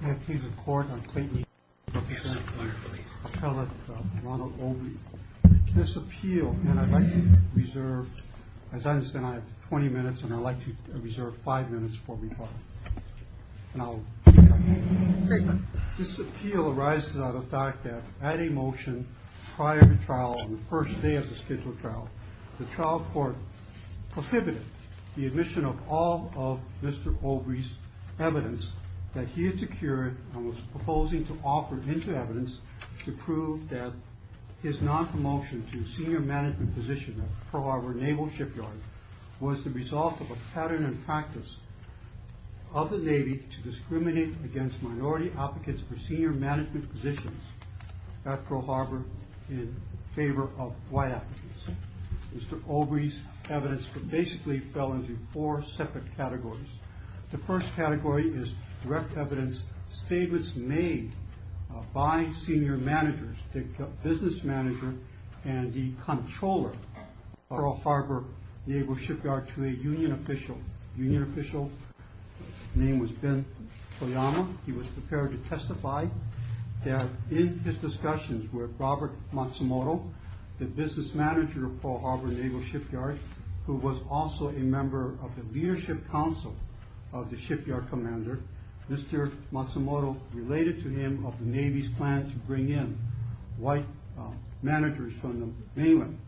This appeal arises out of the fact that, at a motion prior to trial, on the first day of the scheduled trial, the trial court prohibited the admission of all of Mr. Obrey's evidence that he had secured and was proposing to offer into evidence to prove that his non-commulsion to senior management position at Pearl Harbor Naval Shipyard was the result of a pattern and practice of the Navy to discriminate against minority applicants for senior management positions at Pearl Harbor in favor of white applicants. Mr. Obrey's evidence basically fell into four separate categories. The first category is direct evidence statements made by senior managers, the business manager and the controller of Pearl Harbor Naval Shipyard to a union official. The union official's name was Ben Toyama. He was prepared to testify that in his discussions with Robert Matsumoto, the business manager of Pearl Harbor Naval Shipyard, who was also a member of the leadership council of the shipyard commander, Mr. Matsumoto related to him of the Navy's plan to bring in white managers from the mainland,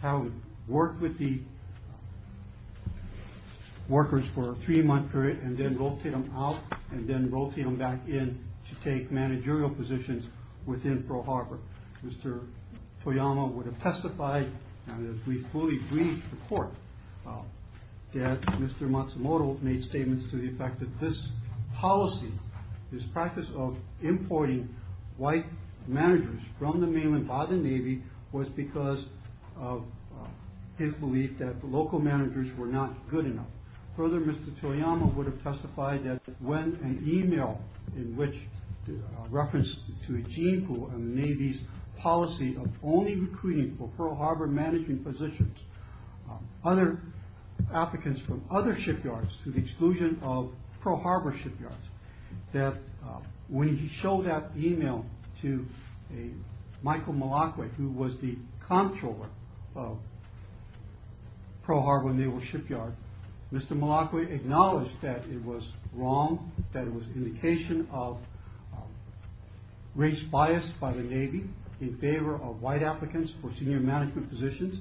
how to work with the workers for a three-month period and then rotate them out and then rotate them back in to take managerial positions within Pearl Harbor. Mr. Toyama would have testified and as we fully agree to the court, that Mr. Matsumoto made statements to the effect that this policy, this practice of importing white managers from the mainland by the Navy was because of his belief that the local managers were not good enough. Further, Mr. Toyama would have testified that when an email in which referenced to a gene pool of the Navy's policy of only recruiting for Pearl Harbor managing positions, other applicants from other shipyards to the exclusion of Pearl Harbor shipyards, that when he showed that email to Mr. Matsumoto acknowledged that it was wrong, that it was indication of race bias by the Navy in favor of white applicants for senior management positions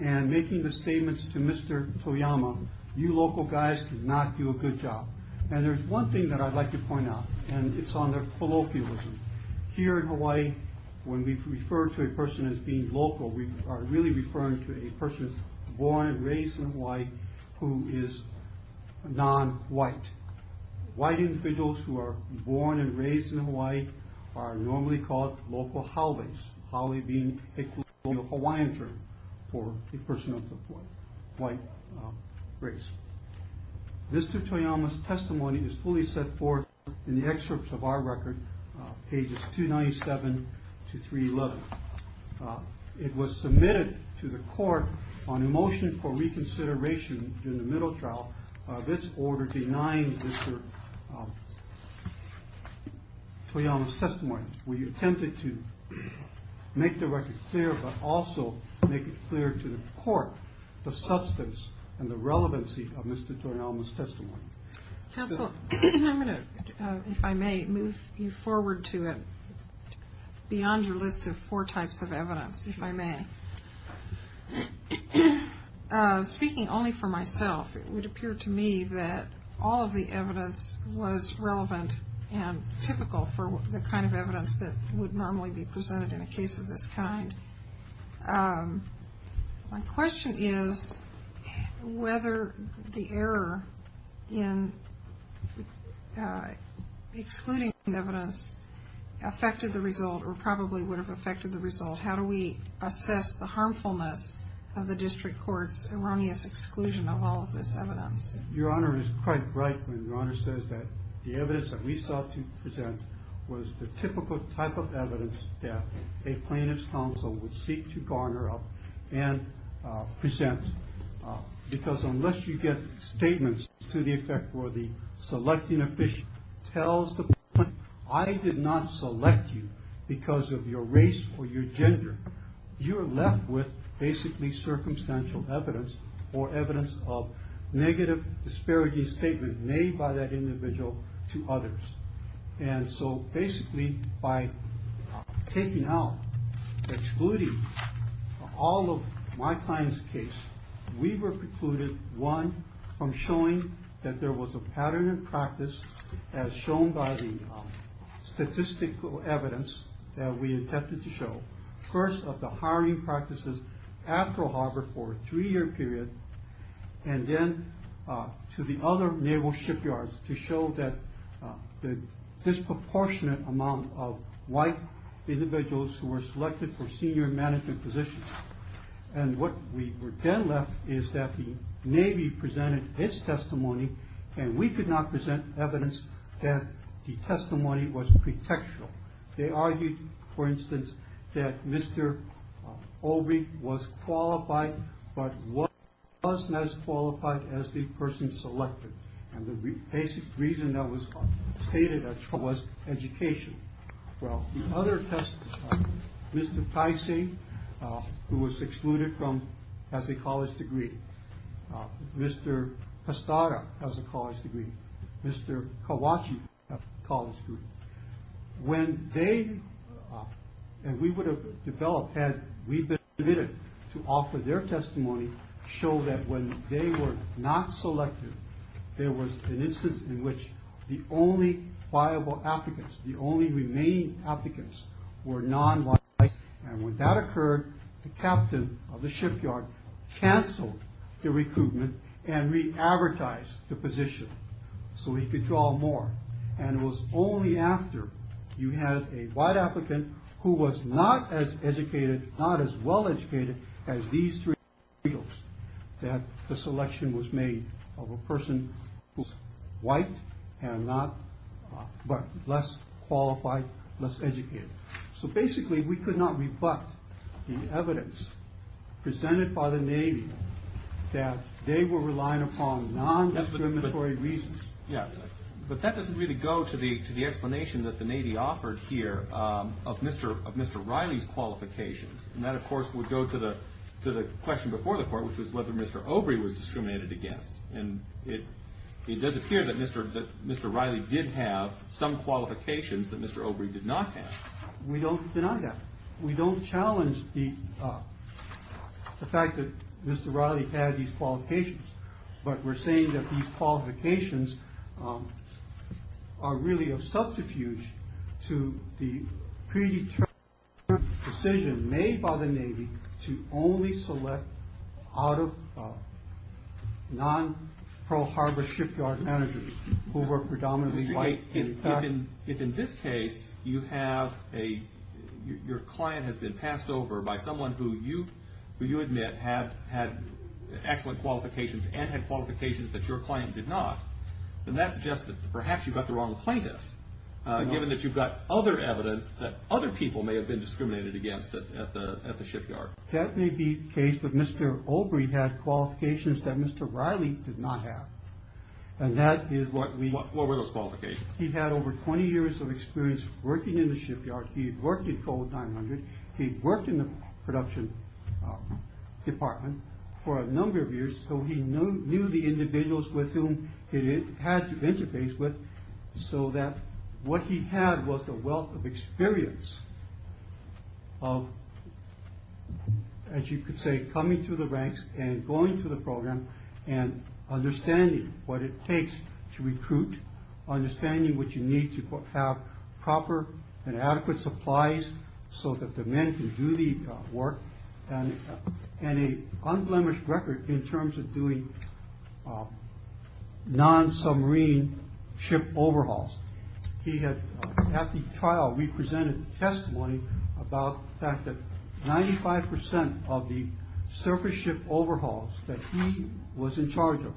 and making the statements to Mr. Toyama, you local guys did not do a good job. And there's one thing that I'd like to point out and it's on the colloquialism. Here in Hawaii, when we refer to a person as being local, we are really referring to a person born and raised in Hawaii who is non-white. White individuals who are born and raised in Hawaii are normally called local Haoles. Haole being a Hawaiian term for a person of the white race. Mr. Toyama's testimony is fully set forth in the excerpts of our record, pages 297 to 311. It was submitted to the court on a motion for reconsideration in the middle trial. This order denying Mr. Toyama's testimony. We attempted to make the record clear, but also make it clear to the court the substance and the relevancy of Mr. Toyama's testimony. Counsel, if I may move you forward to it, beyond your list of four types of evidence, if I may. Speaking only for myself, it would appear to me that all of the evidence was relevant and typical for the kind of evidence that in excluding the evidence affected the result or probably would have affected the result. How do we assess the harmfulness of the district court's erroneous exclusion of all of this evidence? Your Honor is quite right when Your Honor says that the evidence that we sought to present was the typical type of evidence that a plaintiff's counsel would seek to garner up and present. Because unless you get statements to the effect where the selecting official tells the plaintiff, I did not select you because of your race or your gender, you are left with basically circumstantial evidence or evidence of negative disparity statement made by that individual to others. And so basically by taking out, excluding all of my client's case, we were precluded, one, from showing that there was a pattern in practice as shown by the statistical evidence that we attempted to show. First of the hiring practices after Harvard for a three year period, and then to the other naval shipyards to show that the disproportionate amount of white individuals who were selected for senior management positions. And what we were then left is that the Navy presented its testimony and we could not present evidence that the testimony was pretextual. They argued, for instance, that Mr. Obey was qualified, but wasn't as qualified as the person selected. And the basic reason that was stated was education. Well, the other test, Mr. Tyson, who was excluded from, has a college degree. Mr. Pastara has a college degree. When they, and we would have developed had we been permitted to offer their testimony, show that when they were not selected, there was an instance in which the only viable applicants, the only remaining applicants were non-white. And when that occurred, the captain of the Navy, and it was only after you had a white applicant who was not as educated, not as well educated as these three regals that the selection was made of a person who was white and not, but less qualified, less educated. So basically, we could not rebut the evidence presented by the Navy that they were relying upon non-discriminatory reasons. Yeah, but that doesn't really go to the explanation that the Navy offered here of Mr. Riley's qualifications. And that, of course, would go to the question before the court, which was whether Mr. Obey was discriminated against. And it does appear that Mr. Riley did have some qualifications that Mr. Obey did not have. We don't deny that. We don't challenge the fact that Mr. Riley had these qualifications, but we're saying that these qualifications are really a subterfuge to the predetermined decision made by the Navy to only select out of non Pearl Harbor shipyard managers who were predominantly white. If in this case, you have a, your client has been passed over by someone who you admit had excellent qualifications and had qualifications that your client did not, then that suggests that perhaps you've got the wrong plaintiff, given that you've got other evidence that other people may have been discriminated against at the shipyard. That may be the case, but Mr. Obey had qualifications that Mr. Riley did not have. And that is what we... He had over 20 years of experience working in the shipyard. He'd worked at COAL 900. He'd worked in the production department for a number of years. So he knew the individuals with whom he had to interface with, so that what he had was the wealth of experience of, as you could say, coming to the ranks and going to the shipyard, which you need to have proper and adequate supplies so that the men can do the work, and an unblemished record in terms of doing non-submarine ship overhauls. He had, at the trial, represented testimony about the fact that 95% of the surface ship overhauls that he was in charge of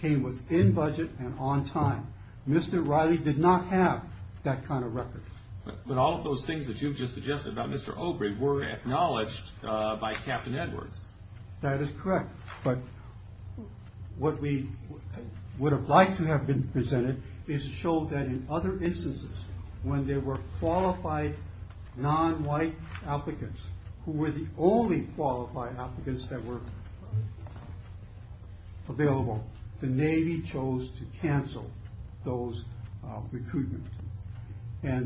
came within budget and on time. Mr. Riley did not have that kind of record. But all of those things that you've just suggested about Mr. Obey were acknowledged by Captain Edwards. That is correct, but what we would have liked to have been presented is to show that in other instances, when there were qualified non-white applicants, who were the only qualified applicants that were available, the Navy chose to cancel those recruitments. But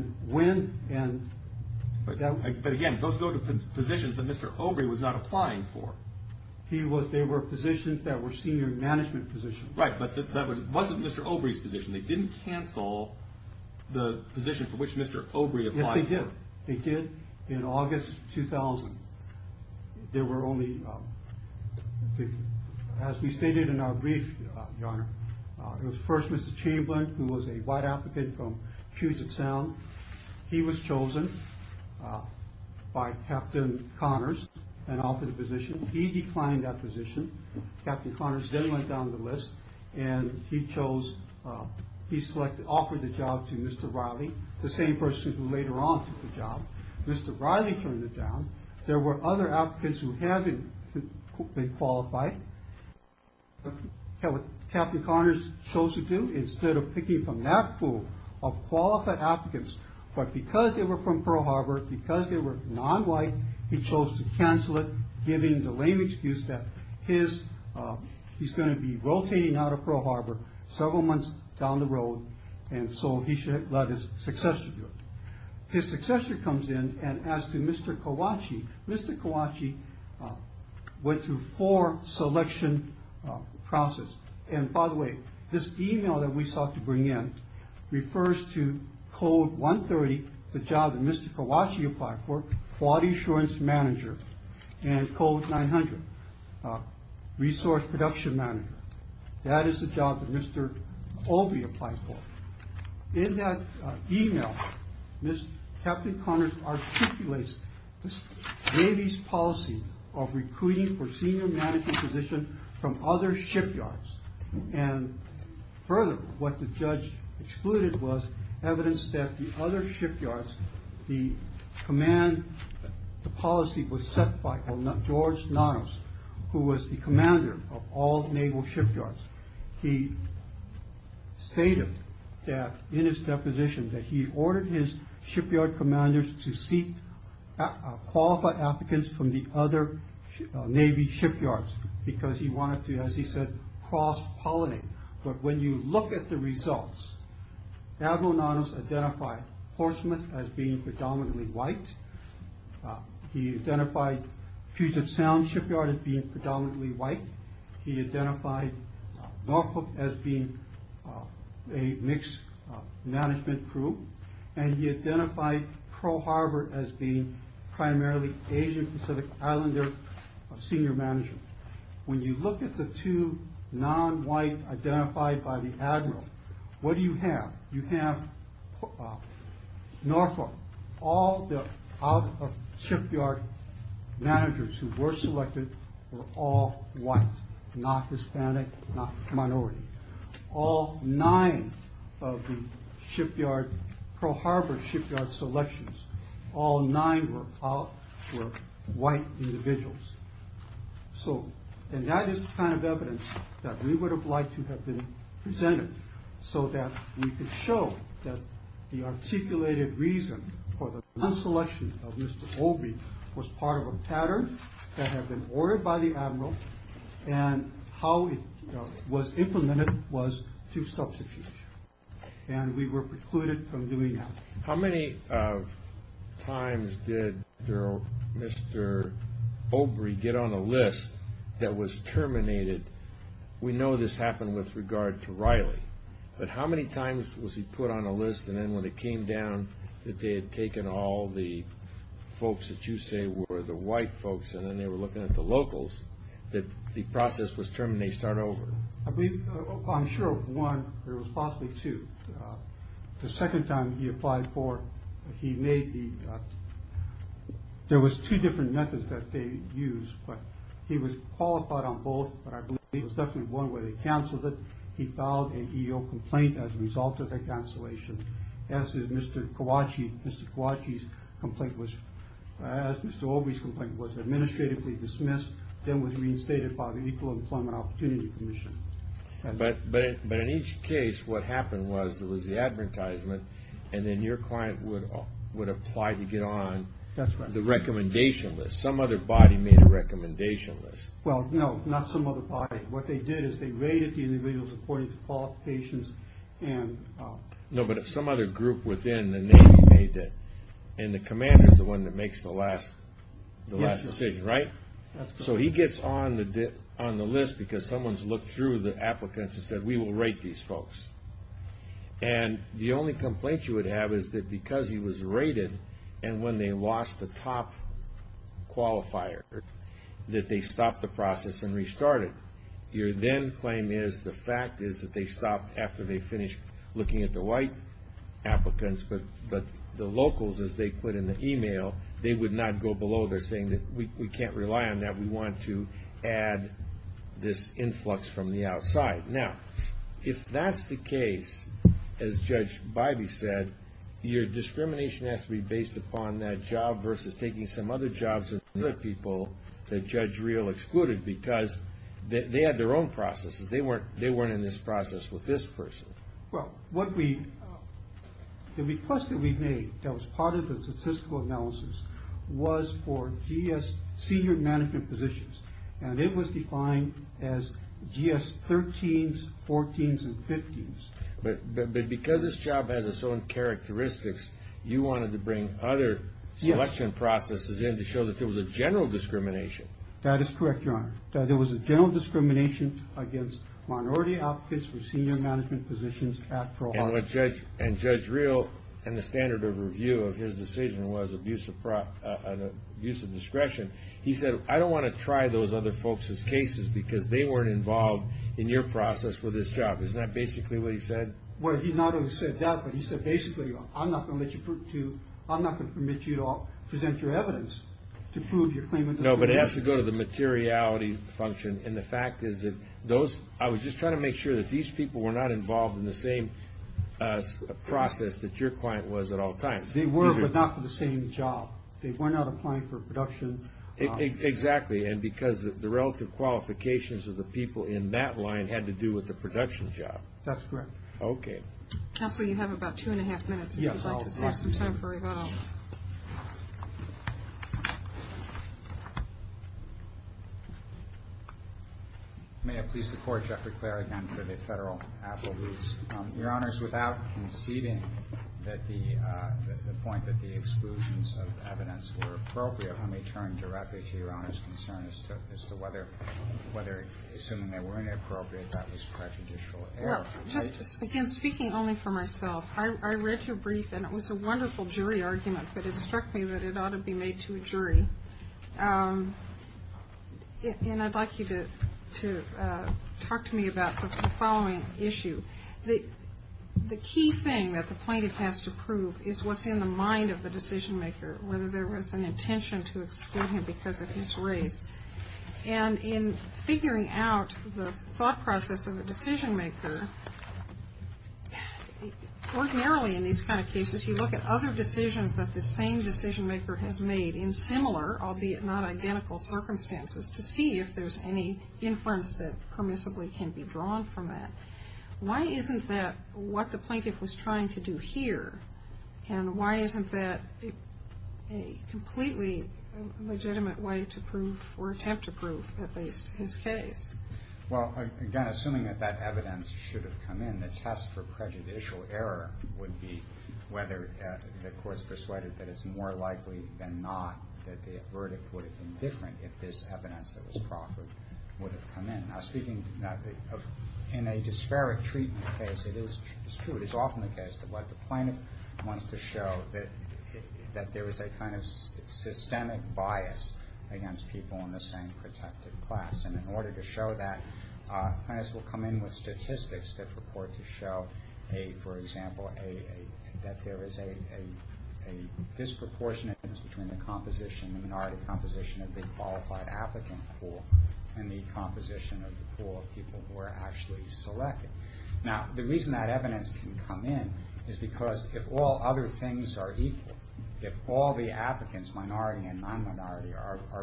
again, those were the positions that Mr. Obey was not applying for. They were positions that were senior management positions. Right, but that wasn't Mr. Obey's position. They didn't cancel the position for which Mr. Obey applied for. They did. They did in August 2000. There were only, as we stated in our brief, your honor, it was first Mr. Chamberlain, who was a white applicant from Puget Sound. He was chosen by Captain Connors and offered the position. He declined that position. Captain Connors then went down the list and he chose, he selected, offered the job to Mr. Riley, the same person who later on took the job. Mr. Riley turned it down. There were other applicants who hadn't been qualified. Captain Connors chose to do, instead of picking from that pool of qualified applicants, but because they were from Pearl Harbor, because they were non-white, he chose to cancel it, giving the lame excuse that he's going to be rotating out of Pearl Harbor several months down the road, and so he should let his successor do it. His successor comes in and asks Mr. Kawachi. Mr. Kawachi went through four selection processes. And by the way, this email that we sought to bring in refers to Code 130, the job that Mr. Kawachi applied for, quality assurance manager, and Code 900, resource production manager. That is the job that Mr. Olby applied for. In that email, Captain Connors articulates the Navy's policy of recruiting for senior management position from other shipyards. And further, what the judge excluded was evidence that the other shipyards, the command, the policy was set by George Nanos, who was the commander of all naval shipyards. He stated that in his deposition that he ordered his shipyard commanders to seek qualified applicants from the other Navy shipyards, because he wanted to, as he said, cross-pollinate. But when you look at the results, Admiral Nanos identified Horsemouth as being predominantly white. He identified Puget Sound Shipyard as being predominantly white. He identified Norfolk as being a mixed management crew. And he identified Pearl Harbor as being primarily Asian Pacific Islander senior management. When you look at the two non-white identified by the Admiral, what do you have? You have Norfolk. All the out-of-shipyard managers who were selected were all white, not Hispanic, not minority. All nine of the Pearl Harbor shipyard selections, all nine were white individuals. And that is the kind of evidence that we would have liked to have been presented, so that we could show that the articulated reason for the non-selection of Mr. Obey was part of a pattern that had been ordered by the Admiral, and how it was implemented was through substitution. And we were precluded from doing that. How many times did Mr. Obey get on a list that was terminated? We know this happened with regard to Riley, but how many times was he put on a list, and then when it came down that they had taken all the folks that you say were the white folks, and then they were looking at the locals, that the process was terminated right over? I'm sure of one, there was possibly two. The second time he applied for, he made the, there was two different methods that they used, but he was qualified on both, but I believe it was definitely one where they canceled it. He filed an EO complaint as a result of that cancellation. As is Mr. Kawachi, Mr. Kawachi's complaint was, as Mr. Obey's complaint was, administratively dismissed, then was reinstated by the Equal Employment Opportunity Commission. But in each case, what happened was, there was the advertisement, and then your client would apply to get on the recommendation list. Some other body made a recommendation list. Well, no, not some other body. What they did is they rated the individuals according to qualifications. No, but if some other group within the Navy made it, and the commander's the one that makes the last decision, right? So he gets on the list because someone's looked through the applicants and said, we will rate these folks. And the only complaint you would have is that because he was rated, and when they lost the top qualifier, that they stopped the process and restarted. Your then claim is the fact is that they stopped after they finished looking at the white applicants, but the locals, as they put in the email, they would not go below. They're saying that we can't rely on that. We want to add this influx from the outside. Now, if that's the case, as Judge Bivey said, your discrimination has to be based upon that job versus taking some other jobs from other people that Judge Reel excluded because they had their own processes. They weren't in this process with this person. Well, the request that we've made that was part of the statistical analysis was for GS senior management positions, and it was defined as GS 13s, 14s, and 15s. But because this job has its own characteristics, you wanted to bring other selection processes in to show that there was a general discrimination. That is correct, Your Honor. There was a general discrimination against minority applicants for senior management positions at Pearl Harbor. And Judge Reel and the standard of review of his decision was abuse of discretion. He said, I don't want to try those other folks' cases because they weren't involved in your process with this job. Isn't that basically what he said? Well, he not only said that, but he said basically, I'm not going to permit you to present your evidence to prove your claim of discrimination. No, but it has to go to the materiality function. And the fact is that I was just trying to make sure that these people were not involved in the same process that your client was at all times. They were, but not for the same job. They were not applying for production. Exactly. And because the relative qualifications of the people in that line had to do with the production job. That's correct. Okay. Counsel, you have about two and a half minutes if you'd like to save some time for rebuttal. May it please the Court, Jeffrey Clare again for the federal applicants. Your Honors, without conceding that the point that the exclusions of evidence were appropriate, let me turn directly to Your Honors' concern as to whether, assuming they weren't appropriate, that was prejudicial error. Well, just again, speaking only for myself, I read your brief and it was a wonderful jury argument, but it struck me that it ought to be made to a jury. And I'd like you to talk to me about the following issue. The key thing that the plaintiff has to prove is what's in the mind of the decision maker, whether there was an intention to exclude him because of his race. And in figuring out the thought process of a decision maker, ordinarily in these kind of cases, you look at other decisions that the same decision maker has made in similar, albeit not identical, circumstances to see if there's any inference that permissibly can be drawn from that. Why isn't that what the plaintiff was trying to do here? And why isn't that a completely legitimate way to prove or attempt to prove at least his case? Well, again, assuming that that evidence should have come in, and the test for prejudicial error would be whether the court's persuaded that it's more likely than not that the verdict would have been different if this evidence that was proffered would have come in. Now, speaking in a disparate treatment case, it is true, it is often the case that what the plaintiff wants to show that there is a kind of systemic bias against people in the same protected class. And in order to show that, plaintiffs will come in with statistics that purport to show, for example, that there is a disproportionate difference between the minority composition of the qualified applicant pool and the composition of the pool of people who are actually selected. Now, the reason that evidence can come in is because if all other things are equal, if all the applicants, minority and non-minority,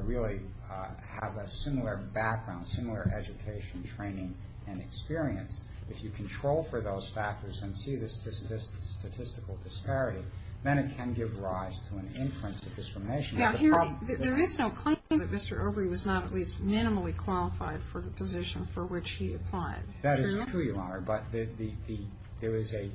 really have a similar background, similar education, training, and experience, if you control for those factors and see the statistical disparity, then it can give rise to an inference of discrimination. Now, there is no claim that Mr. Obrey was not at least minimally qualified for the position for which he applied. That is true, Your Honor, but there is a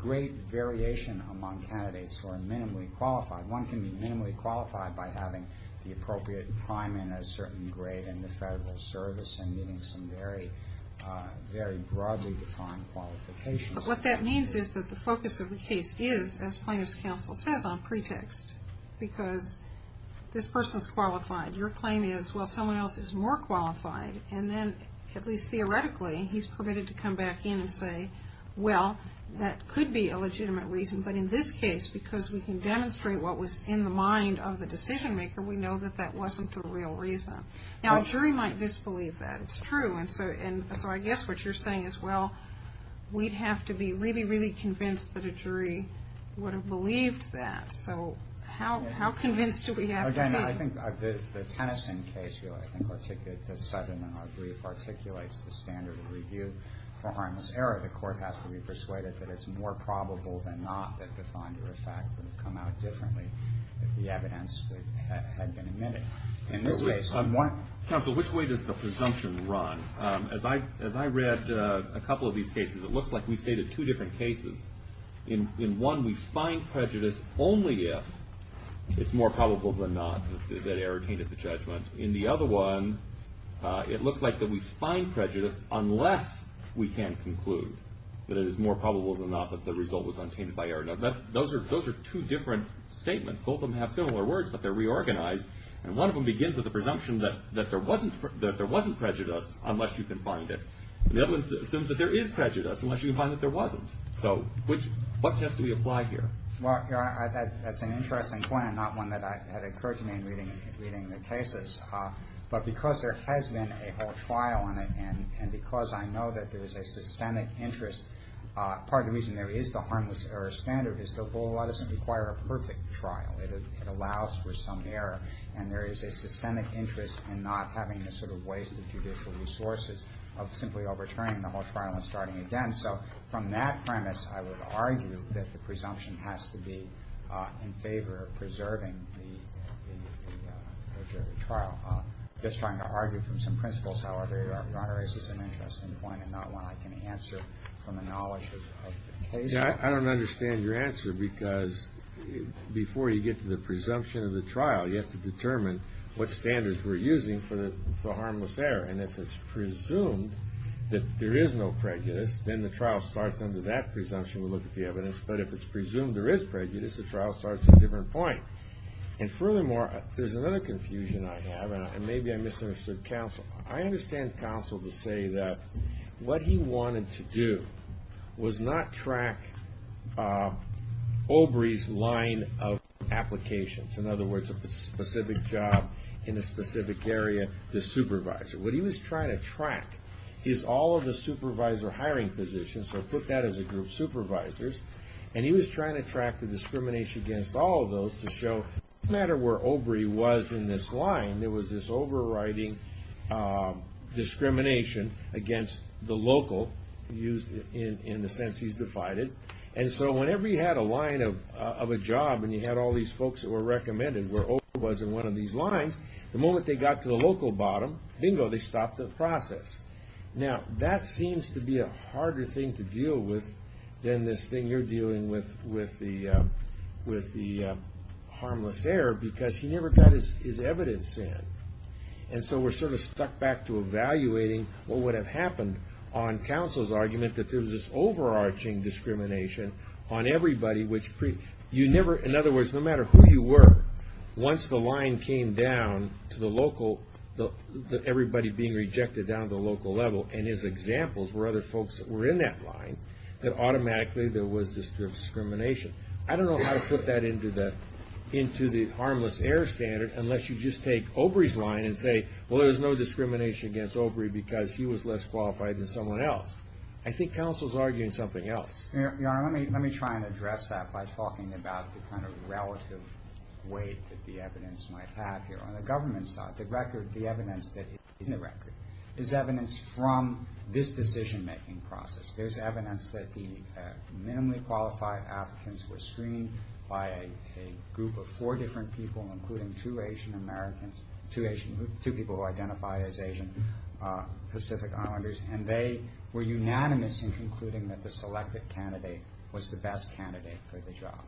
great variation among candidates who are minimally qualified. One can be minimally qualified by having the appropriate crime in a certain grade in the Federal Service and meeting some very broadly defined qualifications. But what that means is that the focus of the case is, as Plaintiff's Counsel says on pretext, because this person is qualified. Your claim is, well, someone else is more qualified. And then, at least theoretically, he's permitted to come back in and say, well, that could be a legitimate reason. But in this case, because we can demonstrate what was in the mind of the decision maker, we know that that wasn't the real reason. Now, a jury might disbelieve that. It's true. And so I guess what you're saying is, well, we'd have to be really, really convinced that a jury would have believed that. So how convinced do we have to be? Well, again, I think the Tennyson case, I think, articulates the standard of review for harmless error. The court has to be persuaded that it's more probable than not that the finder of fact would have come out differently if the evidence had been admitted. Counsel, which way does the presumption run? As I read a couple of these cases, it looks like we stated two different cases. In one, we find prejudice only if it's more probable than not that error tainted the judgment. In the other one, it looks like that we find prejudice unless we can conclude that it is more probable than not that the result was untainted by error. Now, those are two different statements. Both of them have similar words, but they're reorganized. And one of them begins with the presumption that there wasn't prejudice unless you can find it. And the other assumes that there is prejudice unless you can find that there wasn't. So what test do we apply here? Well, that's an interesting point and not one that had occurred to me in reading the cases. But because there has been a whole trial on it and because I know that there is a systemic interest, part of the reason there is the harmless error standard is that the law doesn't require a perfect trial. It allows for some error. And there is a systemic interest in not having the sort of waste of judicial resources of simply overturning the whole trial and starting again. So from that premise, I would argue that the presumption has to be in favor of preserving the trial. I'm just trying to argue from some principles. However, it raises an interesting point and not one I can answer from the knowledge of the case. I don't understand your answer because before you get to the presumption of the trial, you have to determine what standards we're using for the harmless error. And if it's presumed that there is no prejudice, then the trial starts under that presumption. We look at the evidence. But if it's presumed there is prejudice, the trial starts at a different point. And furthermore, there's another confusion I have, and maybe I misunderstood counsel. I understand counsel to say that what he wanted to do was not track Obrey's line of applications. In other words, a specific job in a specific area, the supervisor. What he was trying to track is all of the supervisor hiring positions. So put that as a group of supervisors. And he was trying to track the discrimination against all of those to show no matter where Obrey was in this line, there was this overriding discrimination against the local in the sense he's divided. And so whenever you had a line of a job and you had all these folks that were recommended where Obrey was in one of these lines, the moment they got to the local bottom, bingo, they stopped the process. Now, that seems to be a harder thing to deal with than this thing you're dealing with the harmless error because he never got his evidence in. And so we're sort of stuck back to evaluating what would have happened on counsel's argument that there was this overarching discrimination on everybody. In other words, no matter who you were, once the line came down to everybody being rejected down to the local level and his examples were other folks that were in that line, that automatically there was this discrimination. I don't know how to put that into the harmless error standard unless you just take Obrey's line and say, well, there was no discrimination against Obrey because he was less qualified than someone else. I think counsel's arguing something else. Your Honor, let me try and address that by talking about the kind of relative weight that the evidence might have here. On the government side, the evidence that is in the record is evidence from this decision-making process. There's evidence that the minimally qualified applicants were screened by a group of four different people, including two Asian Americans, two people who identify as Asian Pacific Islanders, and they were unanimous in concluding that the selected candidate was the best candidate for the job.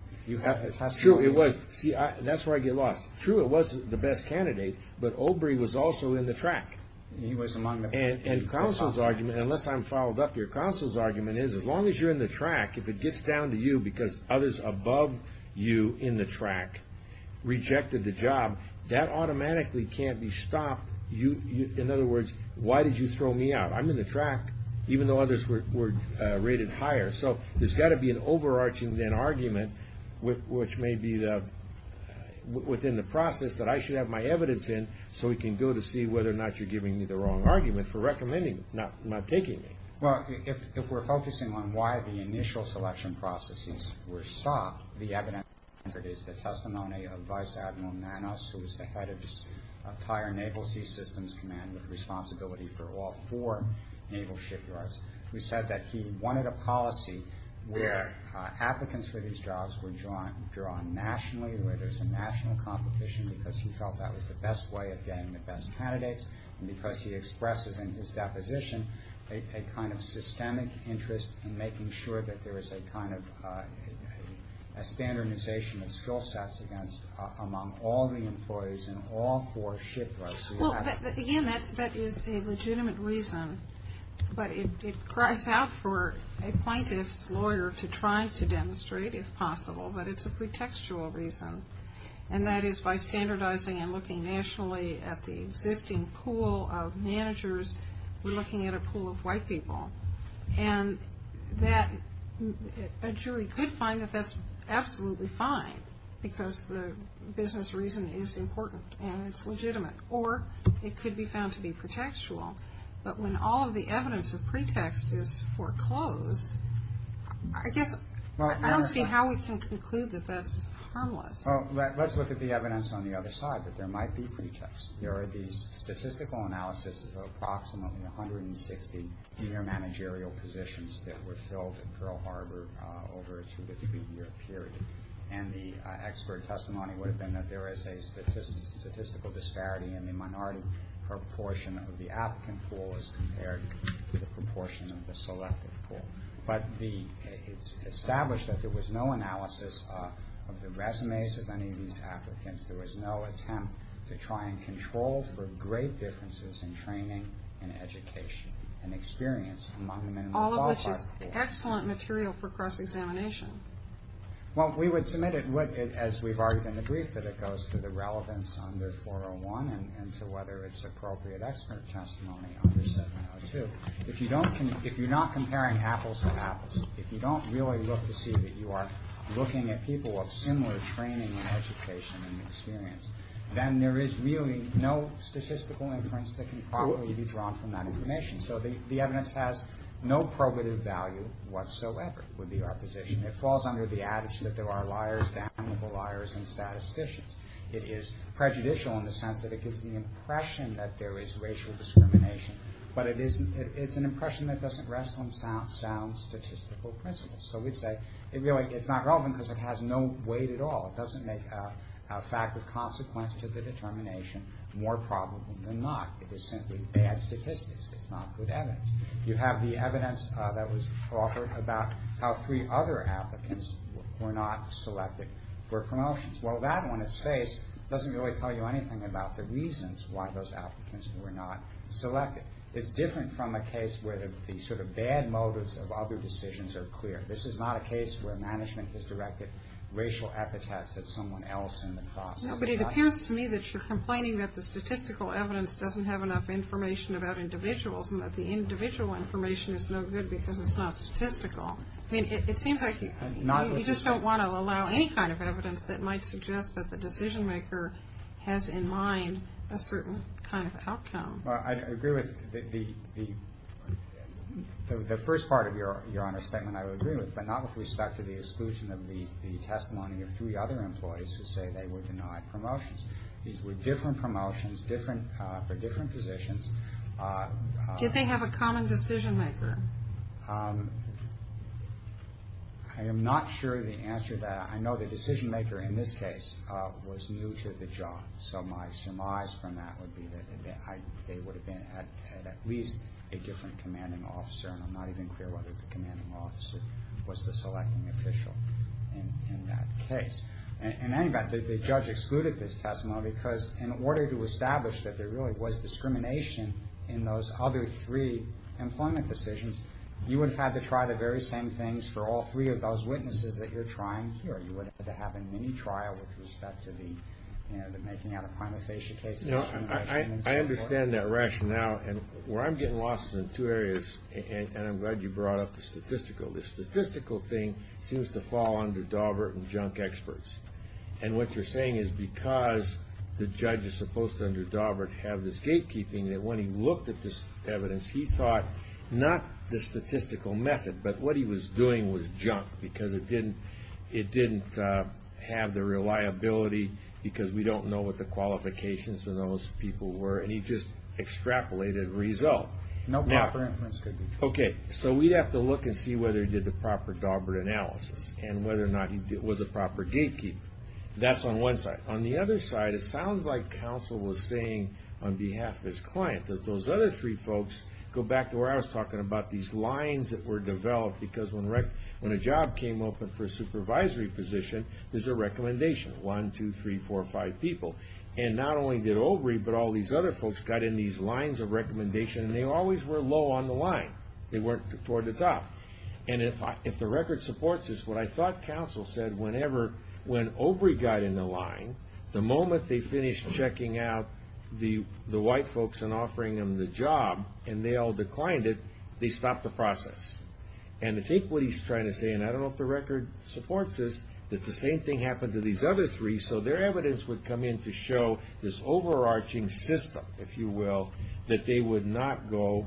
True, it was. See, that's where I get lost. True, it was the best candidate, but Obrey was also in the track. And counsel's argument, unless I'm followed up, your counsel's argument is as long as you're in the track, if it gets down to you because others above you in the track rejected the job, that automatically can't be stopped. In other words, why did you throw me out? I'm in the track, even though others were rated higher. So there's got to be an overarching then argument which may be within the process that I should have my evidence in so we can go to see whether or not you're giving me the wrong argument for recommending, not taking me. Well, if we're focusing on why the initial selection processes were stopped, the evidence is the testimony of Vice Admiral Nanos, who was the head of the entire Naval Sea Systems Command with responsibility for all four naval shipyards, who said that he wanted a policy where applicants for these jobs were drawn nationally, where there's a national competition because he felt that was the best way of getting the best candidates, and because he expressed within his deposition a kind of systemic interest in making sure that there is a kind of standardization of skill sets among all the employees in all four shipyards. Well, again, that is a legitimate reason, but it cries out for a plaintiff's lawyer to try to demonstrate, if possible, but it's a pretextual reason, and that is by standardizing and looking nationally at the existing pool of managers, we're looking at a pool of white people, and that a jury could find that that's absolutely fine because the business reason is important and it's legitimate, or it could be found to be pretextual, but when all of the evidence of pretext is foreclosed, I guess I don't see how we can conclude that that's harmless. Well, let's look at the evidence on the other side, that there might be pretext. There are these statistical analysis of approximately 160 senior managerial positions that were filled at Pearl Harbor over a two- to three-year period, and the expert testimony would have been that there is a statistical disparity in the minority proportion of the applicant pool as compared to the proportion of the selected pool, but it's established that there was no analysis of the resumes of any of these applicants. There was no attempt to try and control for great differences in training and education and experience among the minority pool. All of which is excellent material for cross-examination. Well, we would submit it, as we've argued in the brief, that it goes to the relevance under 401 and to whether it's appropriate expert testimony under 702. If you're not comparing apples to apples, if you don't really look to see that you are looking at people of similar training and education and experience, then there is really no statistical inference that can properly be drawn from that information. So the evidence has no probative value whatsoever with the opposition. It falls under the attitude that there are liars, damnable liars, and statisticians. It is prejudicial in the sense that it gives the impression that there is racial discrimination, but it's an impression that doesn't rest on sound statistical principles. So we'd say it's not relevant because it has no weight at all. It doesn't make a fact of consequence to the determination more probable than not. It is simply bad statistics. It's not good evidence. You have the evidence that was offered about how three other applicants were not selected for promotions. Well, that, when it's faced, doesn't really tell you anything about the reasons why those applicants were not selected. It's different from a case where the sort of bad motives of other decisions are clear. This is not a case where management has directed racial epithets at someone else in the process. No, but it appears to me that you're complaining that the statistical evidence doesn't have enough information about individuals and that the individual information is no good because it's not statistical. I mean, it seems like you just don't want to allow any kind of evidence that might suggest that the decision-maker has in mind a certain kind of outcome. Well, I agree with the first part of Your Honor's statement I would agree with, but not with respect to the exclusion of the testimony of three other employees who say they were denied promotions. These were different promotions for different positions. Did they have a common decision-maker? I am not sure the answer to that. I know the decision-maker in this case was new to the job, so my surmise from that would be that they would have had at least a different commanding officer, and I'm not even clear whether the commanding officer was the selecting official in that case. In any event, the judge excluded this testimony because in order to establish that there really was discrimination in those other three employment decisions, you would have had to try the very same things for all three of those witnesses that you're trying here. You would have to have a mini-trial with respect to the making out of prima facie cases. I understand that rationale, and where I'm getting lost is in two areas, and I'm glad you brought up the statistical. The statistical thing seems to fall under Daubert and junk experts, and what you're saying is because the judge is supposed to, under Daubert, have this gatekeeping, that when he looked at this evidence, he thought not the statistical method, but what he was doing was junk because it didn't have the reliability because we don't know what the qualifications of those people were, and he just extrapolated a result. No proper inference could be true. Okay, so we'd have to look and see whether he did the proper Daubert analysis, and whether or not he was a proper gatekeeper. That's on one side. On the other side, it sounds like counsel was saying on behalf of his client that those other three folks go back to where I was talking about these lines that were developed because when a job came open for a supervisory position, there's a recommendation. One, two, three, four, five people. And not only did Overy, but all these other folks got in these lines of recommendation, and they always were low on the line. They weren't toward the top. And if the record supports this, what I thought counsel said, whenever when Overy got in the line, the moment they finished checking out the white folks and offering them the job and they all declined it, they stopped the process. And I think what he's trying to say, and I don't know if the record supports this, that the same thing happened to these other three, so their evidence would come in to show this overarching system, if you will, that they would not go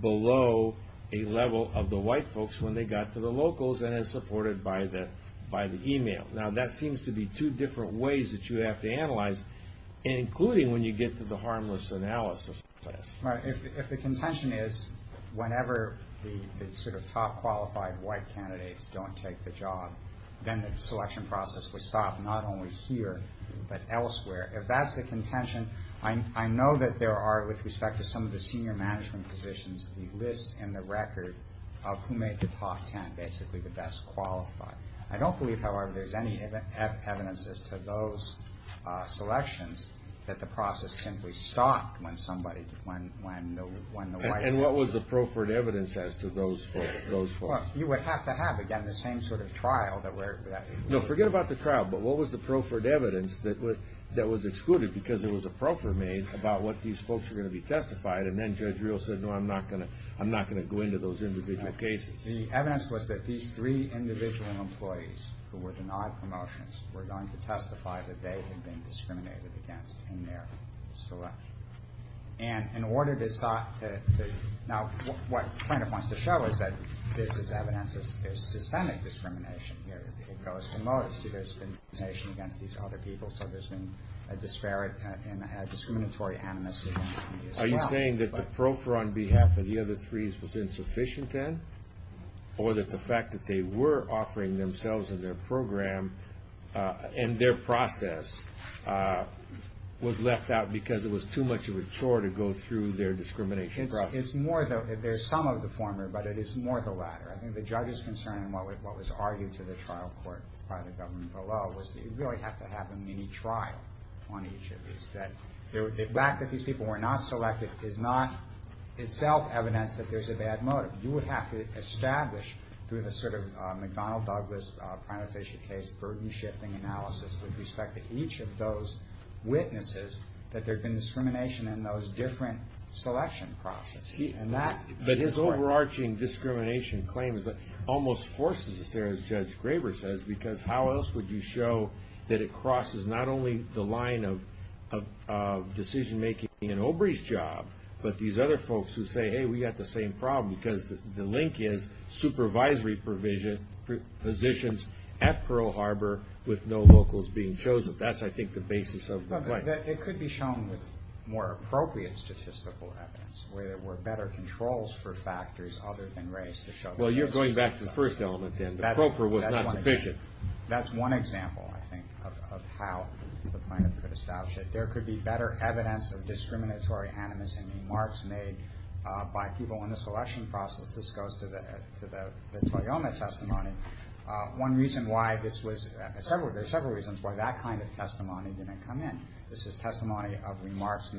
below a level of the white folks when they got to the locals and as supported by the email. Now, that seems to be two different ways that you have to analyze, including when you get to the harmless analysis test. If the contention is whenever the sort of top qualified white candidates don't take the job, then the selection process would stop not only here, but elsewhere. If that's the contention, I know that there are, with respect to some of the senior management positions, the lists in the record of who made the top ten, basically the best qualified. I don't believe, however, there's any evidence as to those selections that the process simply stopped when somebody, when the white folks. And what was the proffered evidence as to those folks? Well, you would have to have, again, the same sort of trial. No, forget about the trial, but what was the proffered evidence that was excluded because there was a proffer made about what these folks were going to be testified, and then Judge Real said, no, I'm not going to go into those individual cases. The evidence was that these three individual employees who were denied promotions were going to testify that they had been discriminated against in their selection. And in order to, now what plaintiff wants to show is that this is evidence of systemic discrimination here. There's been discrimination against these other people, so there's been a disparate and a discriminatory animus against me as well. Are you saying that the proffer on behalf of the other threes was insufficient then? Or that the fact that they were offering themselves in their program and their process was left out because it was too much of a chore to go through their discrimination process? It's more though, there's some of the former, but it is more the latter. I think the judge's concern in what was argued to the trial court by the government below was that you really have to have a mini-trial on each of these. The fact that these people were not selected is not itself evidence that there's a bad motive. You would have to establish through the sort of McDonnell-Douglas prima facie case burden shifting analysis with respect to each of those witnesses that there had been discrimination in those different selection processes. But his overarching discrimination claim almost forces us there, as Judge Graber says, because how else would you show that it crosses not only the line of decision-making in Obrey's job, but these other folks who say, hey, we've got the same problem, because the link is supervisory positions at Pearl Harbor with no locals being chosen. That's, I think, the basis of the claim. It could be shown with more appropriate statistical evidence, where there were better controls for factors other than race. Well, you're going back to the first element, then. The proffer was not sufficient. That's one example, I think, of how the plaintiff could establish it. There could be better evidence of discriminatory animus in remarks made by people in the selection process. This goes to the Toyoma testimony. There are several reasons why that kind of testimony didn't come in. This is testimony of remarks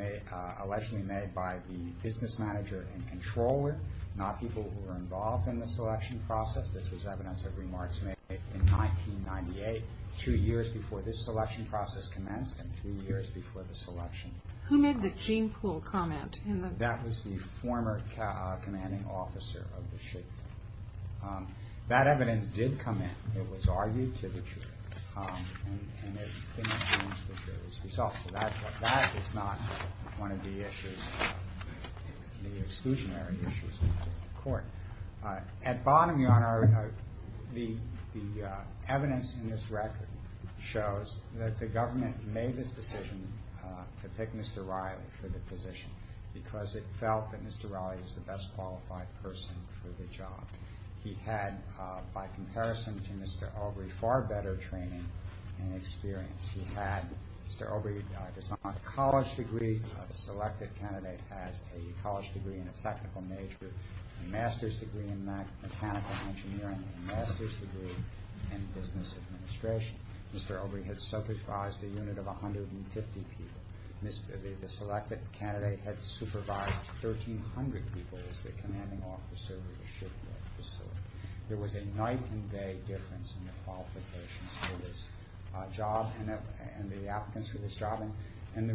allegedly made by the business manager and controller, not people who were involved in the selection process. This was evidence of remarks made in 1998, two years before this selection process commenced and two years before the selection. Who made the gene pool comment? That was the former commanding officer of the ship. That evidence did come in. It was argued to the jury, and it came against the jury's results. That is not one of the exclusionary issues of the court. At bottom, Your Honor, the evidence in this record shows that the government made this decision to pick Mr. Riley for the position because it felt that Mr. Riley is the best qualified person for the job. He had, by comparison to Mr. Obrey, far better training and experience. Mr. Obrey does not have a college degree. The selected candidate has a college degree and a technical major, a master's degree in mechanical engineering, a master's degree in business administration. Mr. Obrey had supervised a unit of 150 people. The selected candidate had supervised 1,300 people as the commanding officer of the shipyard facility. There was a night and day difference in the qualifications for this job and the applicants for this job, and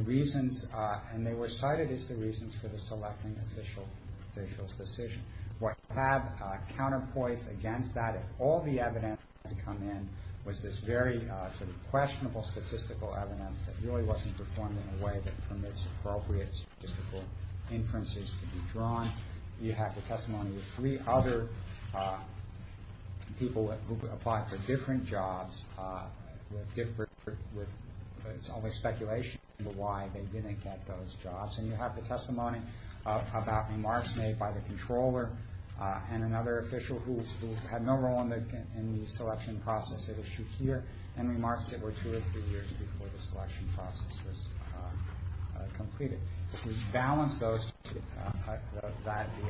they were cited as the reasons for the selecting official's decision. What you have counterpoised against that, if all the evidence has come in, was this very sort of questionable statistical evidence that really wasn't performed in a way that permits appropriate statistical inferences to be drawn. You have the testimony of three other people who applied for different jobs, with all this speculation as to why they didn't get those jobs. And you have the testimony about remarks made by the controller and another official who had no role in the selection process at issue here, and remarks that were two or three years before the selection process was completed. To balance the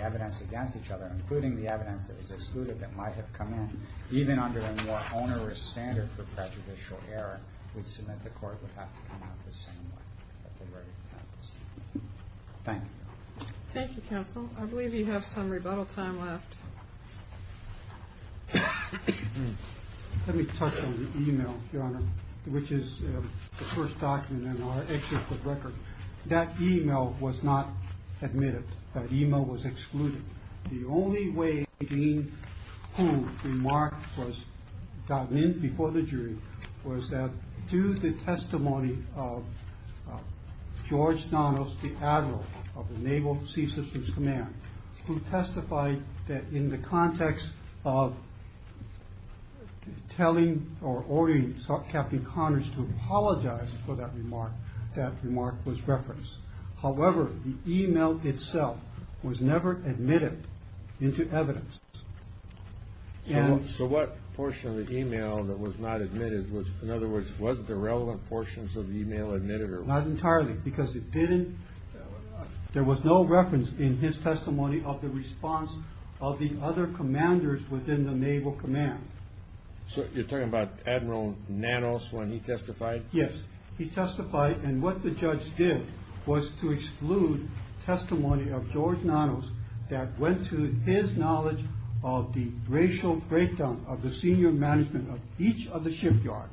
evidence against each other, including the evidence that was excluded that might have come in, even under a more onerous standard for prejudicial error, which is that the court would have to come out the same way. Thank you. Thank you, counsel. I believe you have some rebuttal time left. Let me touch on the e-mail, Your Honor, which is the first document in our executive record. That e-mail was not admitted. That e-mail was excluded. The only way in whom the remark was gotten in before the jury was that through the testimony of George Donnells, the admiral of the Naval Sea Systems Command, who testified that in the context of telling or ordering Captain Connors to apologize for that remark, that remark was referenced. However, the e-mail itself was never admitted into evidence. So what portion of the e-mail that was not admitted was, in other words, was the relevant portions of the e-mail admitted? Not entirely, because there was no reference in his testimony of the response of the other commanders within the Naval Command. So you're talking about Admiral Nanos when he testified? Yes, he testified. And what the judge did was to exclude testimony of George Nanos that went to his knowledge of the racial breakdown of the senior management of each of the shipyard.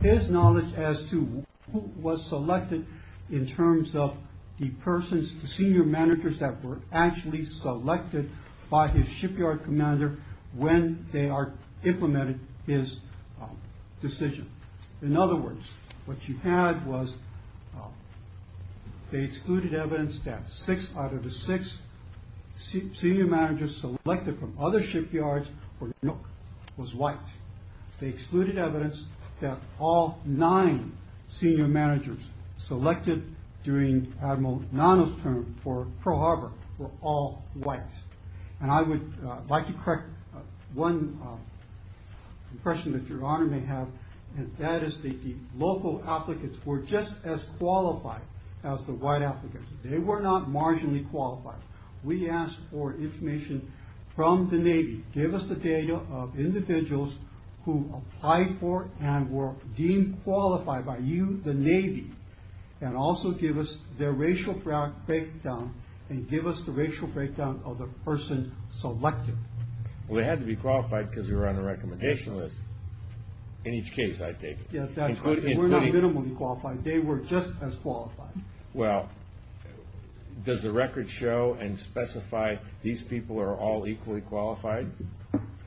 His knowledge as to who was selected in terms of the persons, the senior managers that were actually selected by his shipyard commander when they are implemented his decision. In other words, what you had was they excluded evidence that six out of the six senior managers selected from other shipyards were white. They excluded evidence that all nine senior managers selected during Admiral Nanos' term for Pearl Harbor were all white. And I would like to correct one question that Your Honor may have, and that is that the local applicants were just as qualified as the white applicants. They were not marginally qualified. We asked for information from the Navy. Give us the data of individuals who applied for and were deemed qualified by you, the Navy, and also give us their racial breakdown and give us the racial breakdown of the person selected. Well, they had to be qualified because they were on the recommendation list. In each case, I take it. Yes, that's correct. We're not minimally qualified. They were just as qualified. Well, does the record show and specify these people are all equally qualified?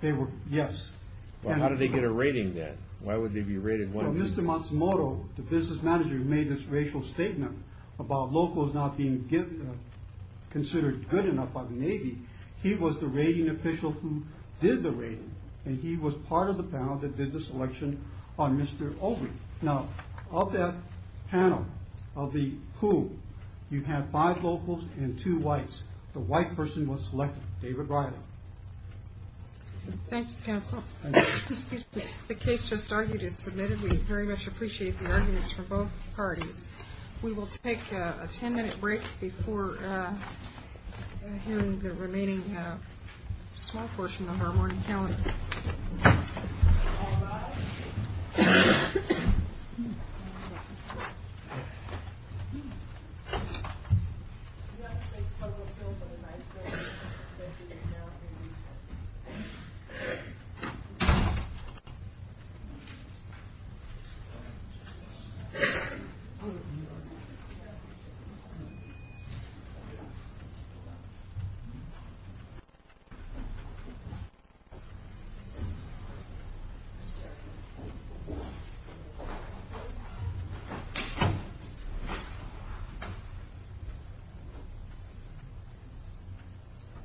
They were, yes. Well, how did they get a rating then? Why would they be rated? Well, Mr. Matsumoto, the business manager who made this racial statement about locals not being considered good enough by the Navy, he was the rating official who did the rating, and he was part of the panel that did the selection on Mr. Ogle. Now, of that panel, of the who, you have five locals and two whites. The white person was selected, David Riley. Thank you, counsel. The case just argued is submitted. We very much appreciate the arguments from both parties. We will take a ten-minute break before hearing the remaining small portion of our morning calendar. Thank you.